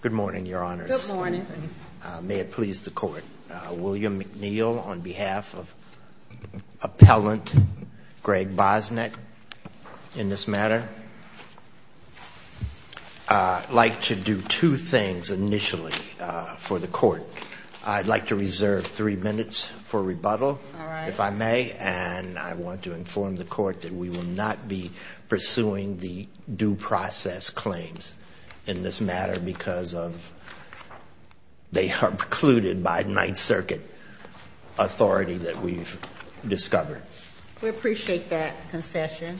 Good morning, Your Honors. May it please the Court. William McNeil on behalf of Appellant Gregg Bosnak in this matter. I'd like to do two things initially for the Court. I'd like to reserve three minutes for rebuttal, if I may, and I want to inform the Court that we will not be pursuing the due process claims in this matter because they are precluded by Ninth Circuit authority that we've discovered. We appreciate that concession.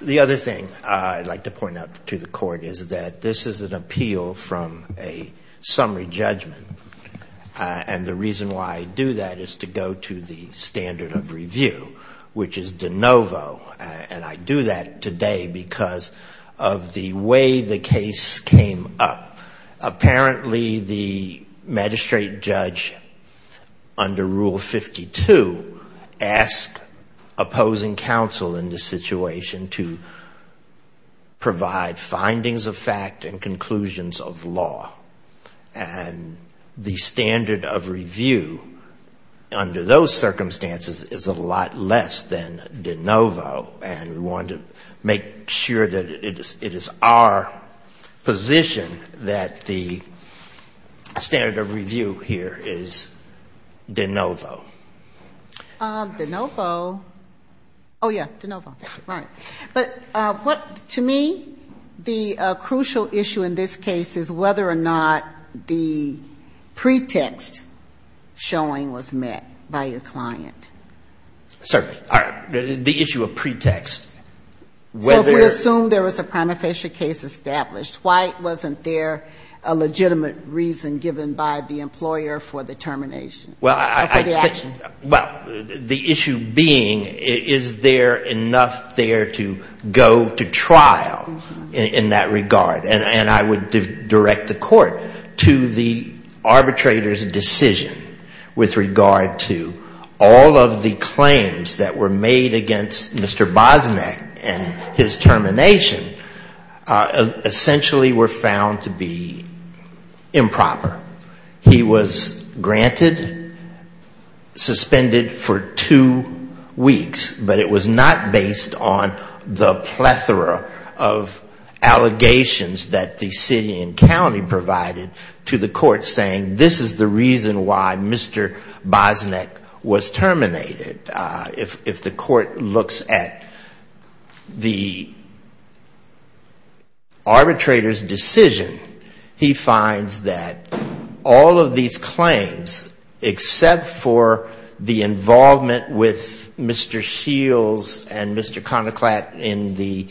The other thing I'd like to point out to the Court is that this is an appeal from a summary judgment, and the reason why I do that is to go to the standard of review, which is de novo, and I do that today because of the way the case came up. Apparently, the magistrate judge, under Rule 52, asked opposing counsel in this situation to provide findings of fact and conclusions of law, and the standard of review under those make sure that it is our position that the standard of review here is de novo. De novo. Oh, yeah, de novo. Right. But what, to me, the crucial issue in this case is whether or not the pretext showing was met by your client. Certainly. The issue of pretext. So if we assume there was a prima facie case established, why wasn't there a legitimate reason given by the employer for the termination? Well, the issue being, is there enough there to go to trial in that regard? And I would direct the Court to the arbitrator's decision with regard to all of the claims that were made against Mr. Bosnack and his termination essentially were found to be improper. He was granted, suspended for two weeks, but it was not based on the plethora of allegations that the city and county provided to the Court saying this is the reason why Mr. Bosnack was terminated. If the Court looks at the arbitrator's decision, he finds that all of these claims, except for the involvement with Mr. Shields and Mr. Conoclat in the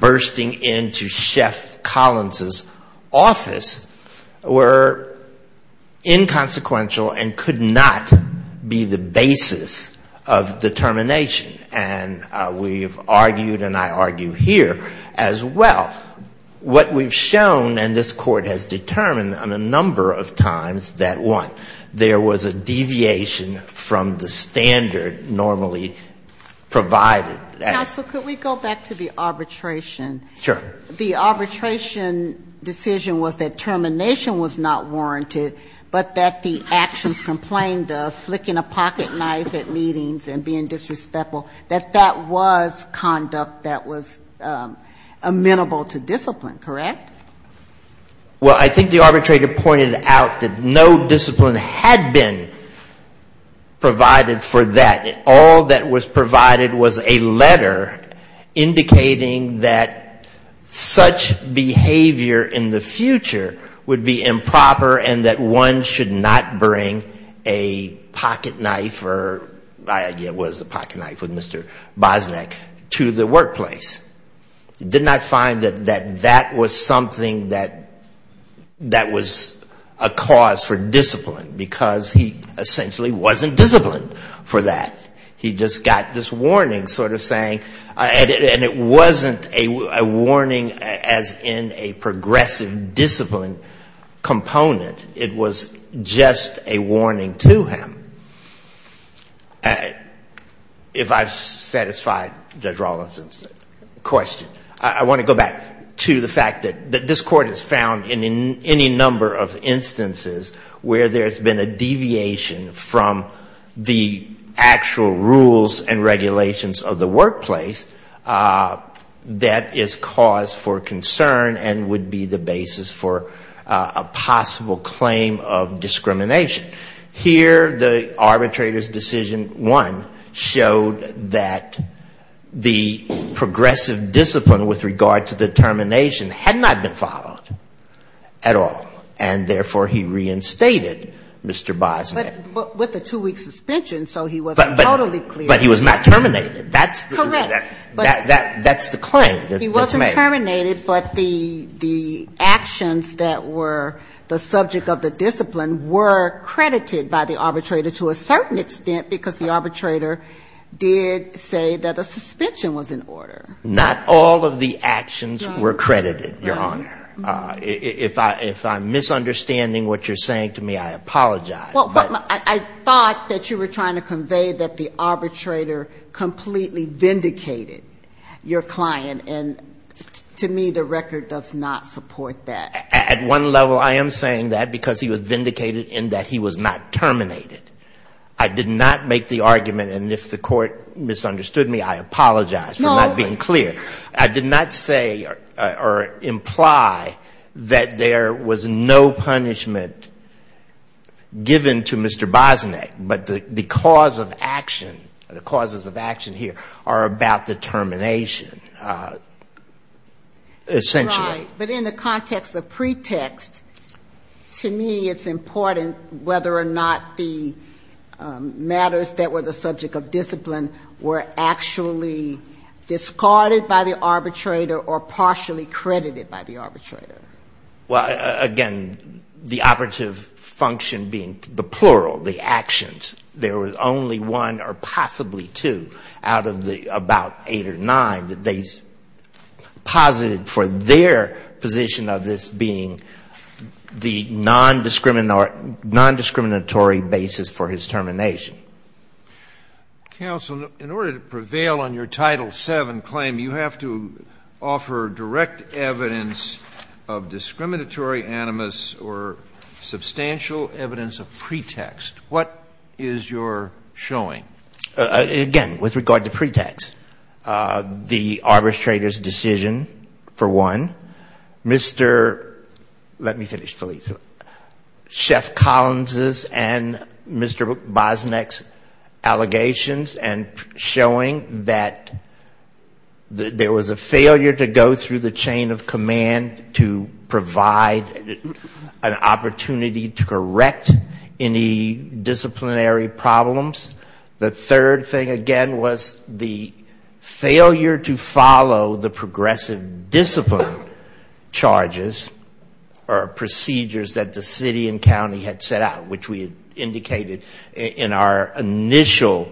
bursting into Chef Collins' office, were inconsequential and could not be the basis of determination. And we've argued and I argue here as well, what we've shown and this Court has determined on a number of times that, one, there was a deviation from the standard normally provided. Ginsburg. Counsel, could we go back to the arbitration? Sure. The arbitration decision was that termination was not warranted, but that the actions complained of, flicking a pocket knife at meetings and being disrespectful, that that was conduct that was amenable to discipline, correct? Well, I think the arbitrator pointed out that no discipline had been provided for that. All that was provided was a letter indicating that such behavior in the future would be improper and that one should not bring a pocket knife or my idea was a pocket knife with Mr. Bosnack to the workplace. He did not find that that was something that was a cause for discipline, because he essentially wasn't disciplined. He just got this warning sort of saying, and it wasn't a warning as in a progressive discipline component. It was just a warning to him. If I've satisfied Judge Rawlinson's question, I want to go back to the fact that this Court has found in any number of instances where there's been a deviation from the actual rules and regulations of the workplace that is cause for concern and would be the basis for a possible claim of discrimination. Here the arbitrator's decision one showed that the progressive discipline with regard to the termination had not been followed at all, and therefore, he reinstated Mr. Bosnack. But with a two-week suspension, so he wasn't totally clear. But he was not terminated. Correct. That's the claim that's made. He wasn't terminated, but the actions that were the subject of the discipline were credited by the arbitrator to a certain extent, because the arbitrator did say that a suspension was in order. Not all of the actions were credited, Your Honor. If I'm misunderstanding what you're saying to me, I apologize. But I thought that you were trying to convey that the arbitrator completely vindicated your client. And to me, the record does not support that. At one level, I am saying that because he was vindicated in that he was not terminated. I did not make the argument, and if the Court misunderstood me, I apologize for not being clear. I did not say or imply that there was no punishment given to Mr. Bosnack, but the cause of action, the causes of action here are about determination, essentially. But in the context of pretext, to me it's important whether or not the matters that were the subject of discipline were actually discarded by the arbitrator or partially credited by the arbitrator. Well, again, the operative function being the plural, the actions, there was only one or possibly two out of the eight or nine that they posited for their position of this being the nondiscriminatory basis for his termination. Counsel, in order to prevail on your Title VII claim, you have to offer direct evidence of discriminatory animus or substantial evidence of pretext. What is your showing? Again, with regard to pretext, the arbitrator's decision, for one. Mr. let me finish, Felice. Chef Collins's and Mr. Bosnack's allegations and showing that there was a failure to go through the chain of command to provide an opportunity to correct any disciplinary problems. The third thing, again, was the failure to follow the progressive discipline charges or procedures that the city and county had set out, which we indicated in our initial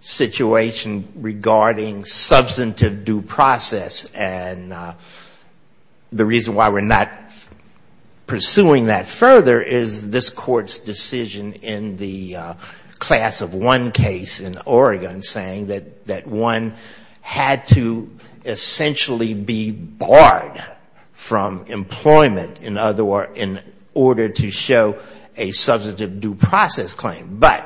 situation regarding substantive due process. And the reason why we're not pursuing that further is this Court's decision in the class of one case, in Oregon, saying that one had to essentially be barred from employment in other words in order to show a substantive due process claim. But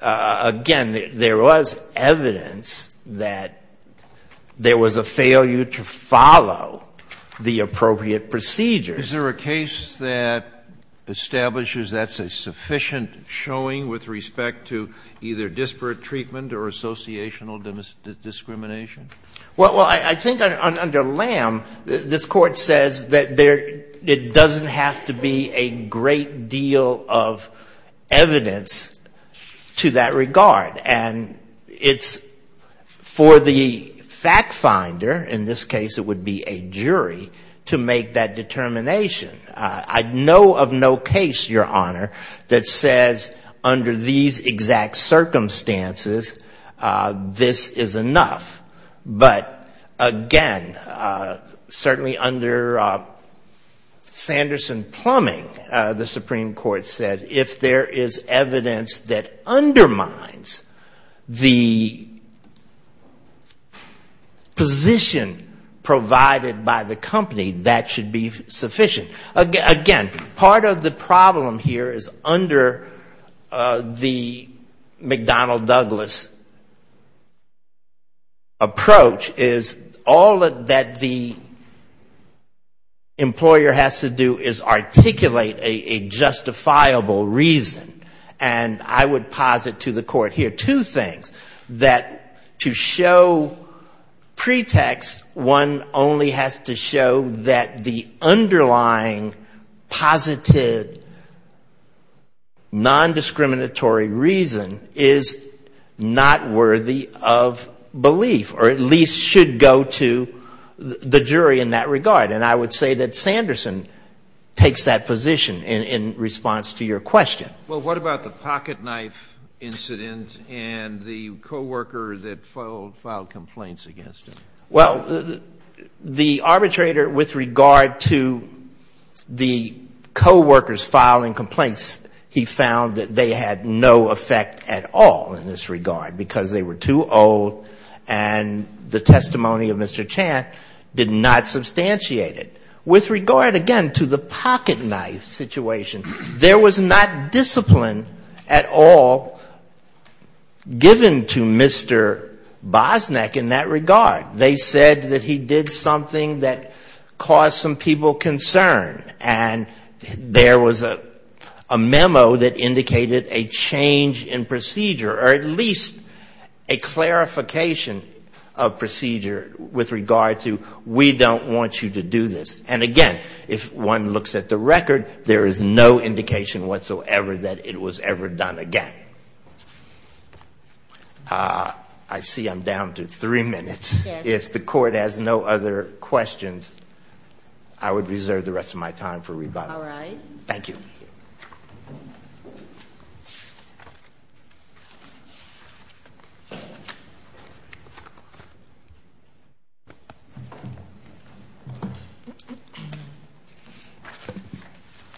again, there was evidence that there was a failure to follow the appropriate procedures. Is there a case that establishes that's a sufficient showing with respect to either disparate treatment or associational discrimination? Well, I think under Lamb, this Court says that it doesn't have to be a great deal of evidence to that regard. And it's for the fact finder, in this case it would be a jury, to make that determination. I know of no case, Your Honor, that says under these exact circumstances, this is enough. But again, certainly under Sanderson-Plumbing, the Supreme Court said if there is evidence that undermines the position provided by the company, that should be sufficient. Again, part of the problem here is under the McDonnell-Douglas approach is all that the employer has to do is articulate a justifiable reason. And I would posit to the Court here two things. That to show pretext, one only has to show that the underlying positive nondiscriminatory reason is not worthy of belief, or at least should go to the jury in that regard. And I would say that Sanderson takes that position in response to your question. Well, what about the pocketknife incident and the coworker that filed complaints against him? Well, the arbitrator, with regard to the coworker's filing complaints, he found that they had no effect at all in this regard because they were too old and the testimony of Mr. Chant did not substantiate it. With regard, again, to the pocketknife situation, there was not discipline at all given to Mr. Bosnick in that regard. They said that he did something that caused some people concern. And there was a memo that indicated a change in procedure, or at least a clarification of procedure with regard to we don't want you to do this. And again, if one looks at the record, there is no indication whatsoever that it was ever done again. I see I'm down to three minutes. If the Court has no other questions, I would reserve the rest of my time for rebuttal.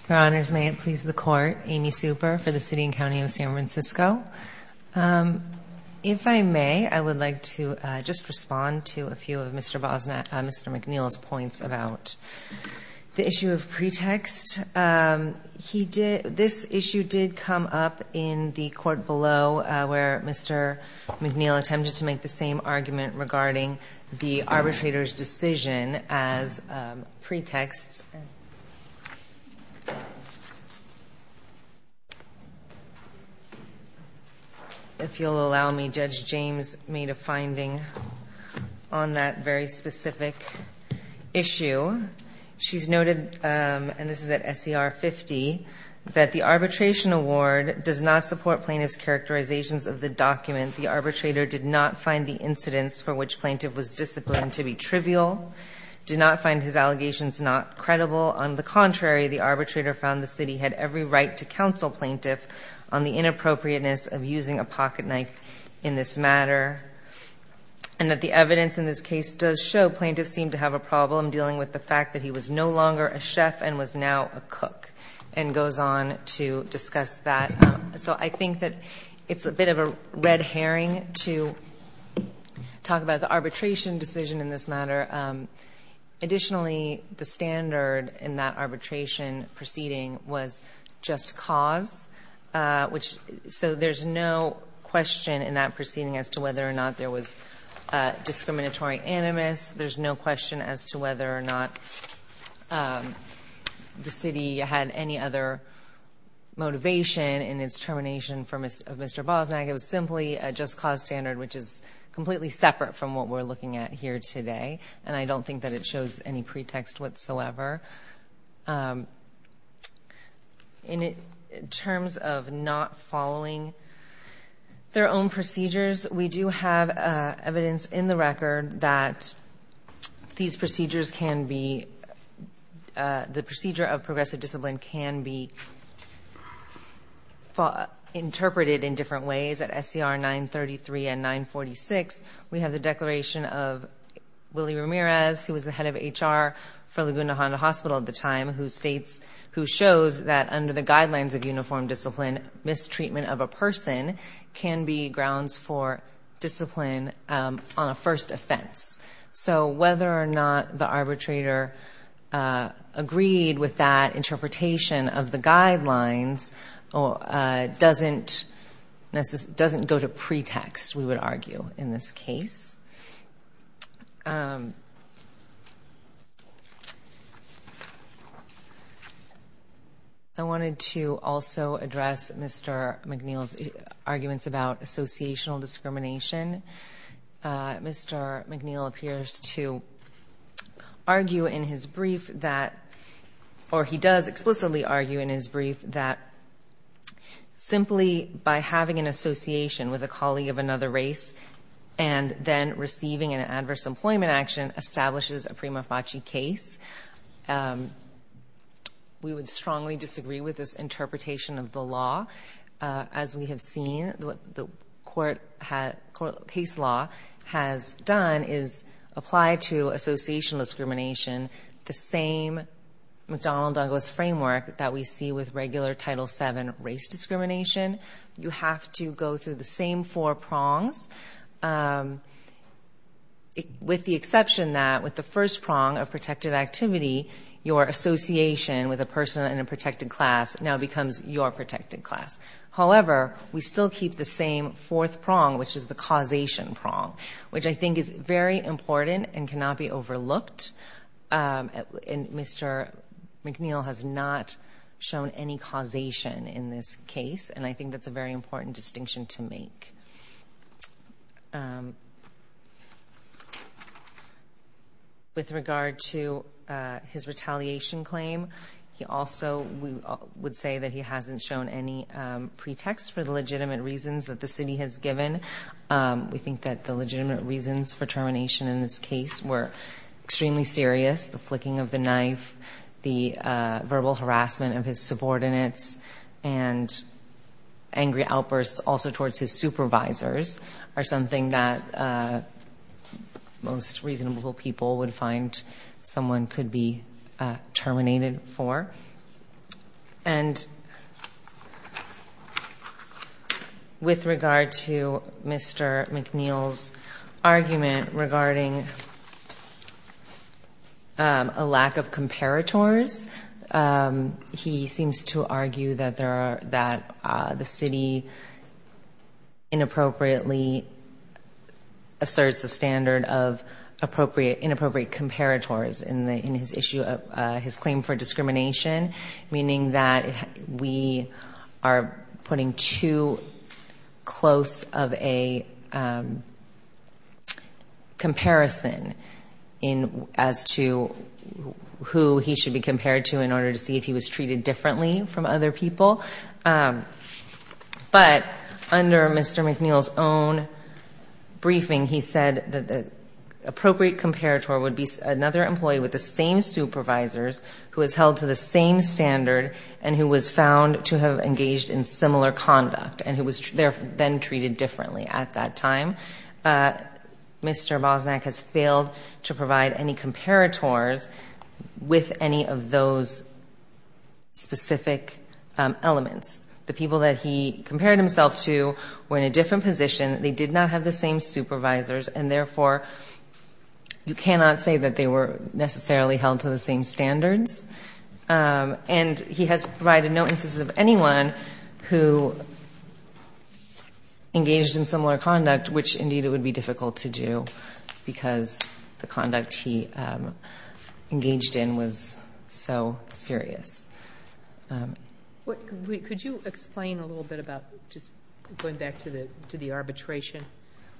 Your Honors, may it please the Court. Amy Super for the City and County of San Francisco. If I may, I would like to just respond to a few of Mr. Bosnick, Mr. McNeil's points about the issue of pretext. This issue did come up in the court below where Mr. McNeil attempted to make the same argument regarding the arbitrator's decision as pretext. If you'll allow me, Judge James made a finding on that very specific issue. She's noted, and this is at SCR 50, that the arbitration award does not support plaintiff's characterizations of the document. The arbitrator did not find the incidents for which plaintiff was disciplined to be trivial, did not find his allegations not credible. On the contrary, the arbitrator found the City had every right to counsel plaintiff on the inappropriateness of using a pocket knife in this matter, and that the evidence in this case does show plaintiff seemed to have a problem dealing with the fact that he was no longer a chef and was now a cook, and goes on to discuss that. So I think that it's a bit of a red herring to talk about the arbitration decision in this matter. Additionally, the standard in that arbitration proceeding was just cause, which, so there's no question in that proceeding as to whether or not there was discriminatory animus. There's no question as to whether or not the City had any other motivation in its termination of Mr. Bosnack. It was simply a just cause standard, which is completely separate from what we're looking at here today, and I don't think that it shows any pretext whatsoever. In terms of not following their own procedures, we do have evidence in the record that these disciplines can be interpreted in different ways. At SCR 933 and 946, we have the declaration of Willie Ramirez, who was the head of HR for Laguna Honda Hospital at the time, who states, who shows that under the guidelines of uniform discipline, mistreatment of a person can be grounds for discipline on a first offense. So whether or not the arbitrator agreed with that interpretation of the guidelines doesn't go to pretext, we would argue, in this case. I wanted to also address Mr. McNeil's arguments about associational discrimination. Mr. McNeil appears to argue in his brief that, or he does explain in his brief that, that there are different forms of discrimination, but he does explicitly argue in his brief that simply by having an association with a colleague of another race and then receiving an adverse employment action establishes a prima facie case. We would strongly disagree with this interpretation of the law. As we have seen, what the court case law has done is apply to associational discrimination the same McDonnell Douglas framework that we see with regular Title VII race discrimination. You have to go through the same four prongs, with the exception that with the first prong of protected activity, your association with a person in a protected class now becomes your protected class. However, we still keep the same fourth prong, which is the causation prong, which I think is very important and cannot be overlooked. Mr. McNeil has not shown any causation in this case, and I think that's a very important distinction to make. With regard to his retaliation claim, he also would say that he hasn't shown any pretext for the legitimate reasons that the city has given. We think that the legitimate reasons for termination in this case were extremely serious, the flicking of the knife, the verbal harassment of his subordinates, and angry outbursts also towards his supervisors are something that most reasonable people would find someone could be terminated for. And with regard to Mr. McNeil's argument regarding a lack of comparators, he seems to argue that the city inappropriately asserts a standard of inappropriate comparators in his claim for discrimination. Meaning that we are putting too close of a comparison as to who he should be compared to in order to see if he was treated differently from other people. But under Mr. McNeil's own briefing, he said that the appropriate comparator would be another employee with the same supervisors, who is held to the same standard, and who was found to have engaged in similar conduct, and who was then treated differently at that time. Mr. Bosnack has failed to provide any comparators with any of those specific elements. The people that he compared himself to were in a different position, they did not have the same supervisors, and they were held to the same standards. And he has provided no instances of anyone who engaged in similar conduct, which indeed it would be difficult to do, because the conduct he engaged in was so serious. Could you explain a little bit about, just going back to the arbitration,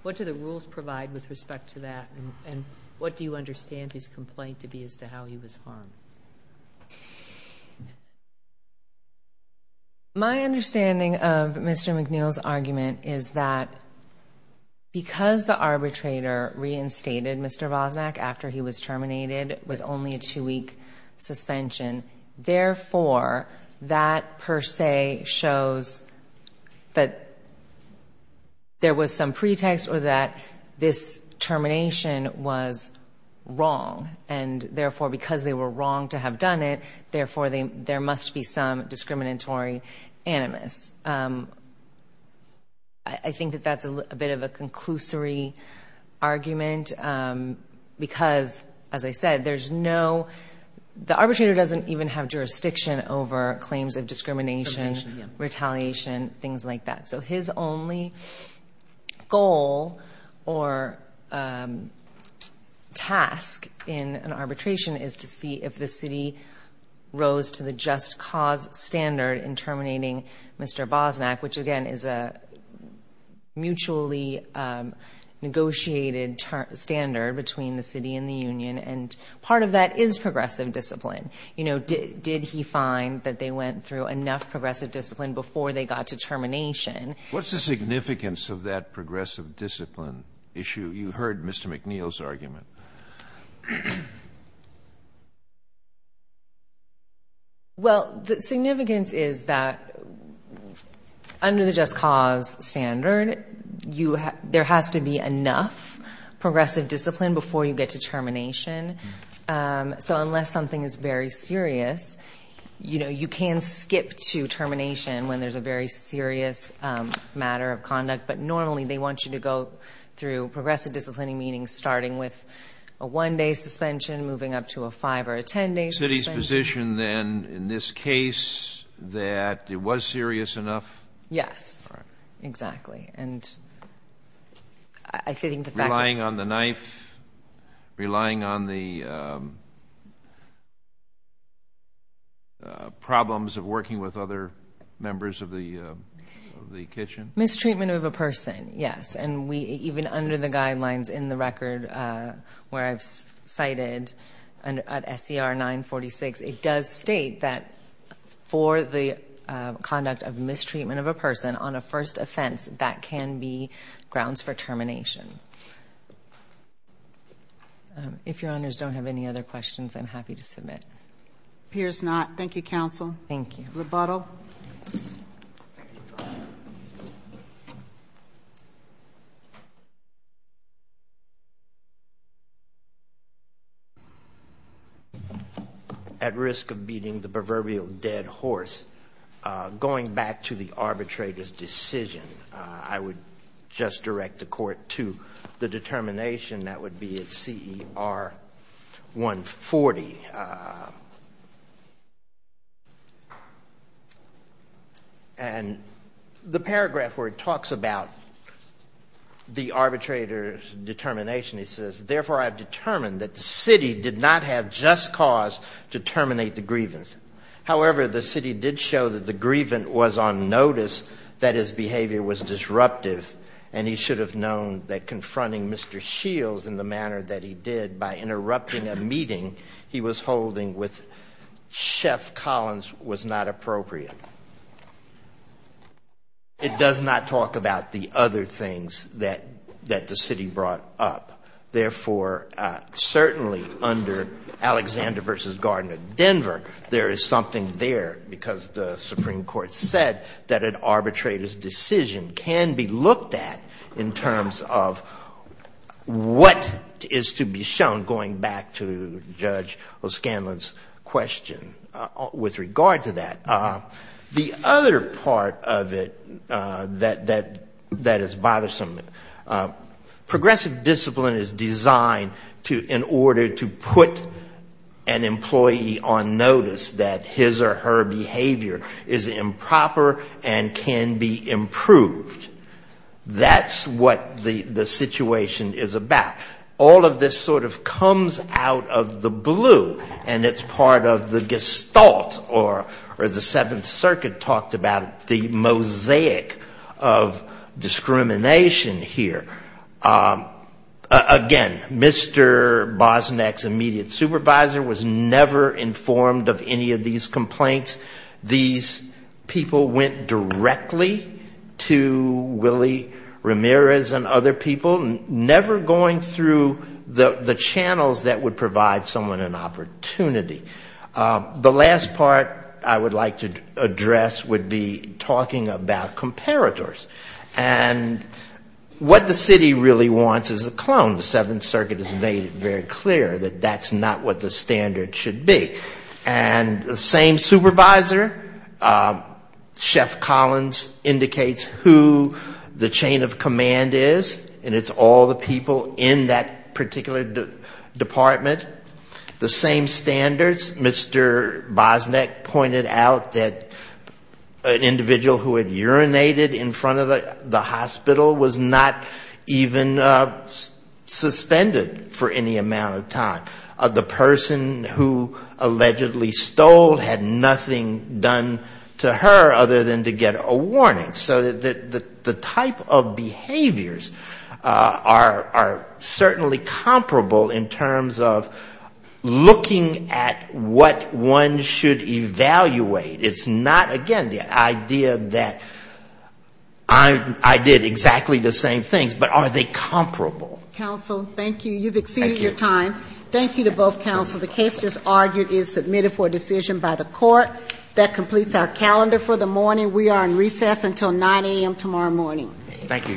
what do the rules provide with respect to that, and what do you think about how he was found? My understanding of Mr. McNeil's argument is that because the arbitrator reinstated Mr. Bosnack after he was terminated with only a two-week suspension, therefore, that per se shows that there was some pretext, or that this termination was wrong, and therefore, because the person was terminated, because they were wrong to have done it, therefore, there must be some discriminatory animus. I think that that's a bit of a conclusory argument, because, as I said, there's no, the arbitrator doesn't even have jurisdiction over claims of discrimination, retaliation, things like that. So his only goal or task in an arbitration is to make sure that the person who is terminated is held to the same standards. And so, again, I think it's important for us to see if the city rose to the just cause standard in terminating Mr. Bosnack, which, again, is a mutually negotiated standard between the city and the union. And part of that is progressive discipline. Did he find that they went through enough progressive discipline before they got to termination? What's the significance of that progressive discipline issue? Well, the significance is that under the just cause standard, there has to be enough progressive discipline before you get to termination. So unless something is very serious, you can skip to termination when there's a very serious matter of conduct. But normally, they want you to go through progressive disciplining, meaning starting with a one-day suspension, moving up to a five-day suspension, five or a ten-day suspension. The city's position, then, in this case, that it was serious enough? Yes, exactly. And I think the fact that... Relying on the knife, relying on the problems of working with other members of the kitchen? Mistreatment of a person, yes. And even under the guidelines in the record where I've cited at SCR 946, it does state that for the conduct of mistreatment of a person on a first offense, that can be grounds for termination. If Your Honors don't have any other questions, I'm happy to submit. Appears not. Thank you, counsel. Thank you. Rebuttal. At risk of beating the proverbial dead horse, going back to the arbitrator's decision, I would just direct the Court to the determination that would be at CER 140, and the paragraph where it talks about the arbitrator's determination, he says, therefore, I've determined that the city did not have just cause to terminate the grievance. However, the city did show that the grievance was on notice, that his behavior was disruptive, and he should have known that confronting Mr. Shields in the manner that he did by interrupting a meeting he was holding was not appropriate. It does not talk about the other things that the city brought up. Therefore, certainly under Alexander v. Gardner, Denver, there is something there, because the Supreme Court said that an arbitrator's decision can be looked at in terms of what is to be shown, going back to Judge O'Scanlan's question with regard to that. The other part of it that is bothersome, progressive discipline is designed in order to put an employee on notice that his or her behavior is improper and can be improved. That's what the situation is about. All of this sort of comes out of the blue, and it's part of the gestalt, or as the Seventh Circuit talked about, the mosaic of discrimination here. Again, Mr. Bosnack's immediate supervisor was never informed of any of these complaints. These people went directly to Willie Ramirez and other people, never going through the process of going through the channels that would provide someone an opportunity. The last part I would like to address would be talking about comparators. And what the city really wants is a clone. The Seventh Circuit has made it very clear that that's not what the standard should be. And the same supervisor, Chef Collins, indicates who the chain of command is, and it's all the people in that particular department. The same standards, Mr. Bosnack pointed out that an individual who had urinated in front of the hospital was not even suspended for any amount of time. The person who allegedly stole had nothing done to her other than to get a warning. So the type of behaviors are certainly comparable in terms of looking at what one should evaluate. It's not, again, the idea that I did exactly the same things, but are they comparable? Counsel, thank you. You've exceeded your time. Thank you to both counsel. The case just argued is submitted for a decision by the court. That completes our calendar for the morning. We are in recess until 9 a.m. tomorrow morning. Thank you, Your Honor.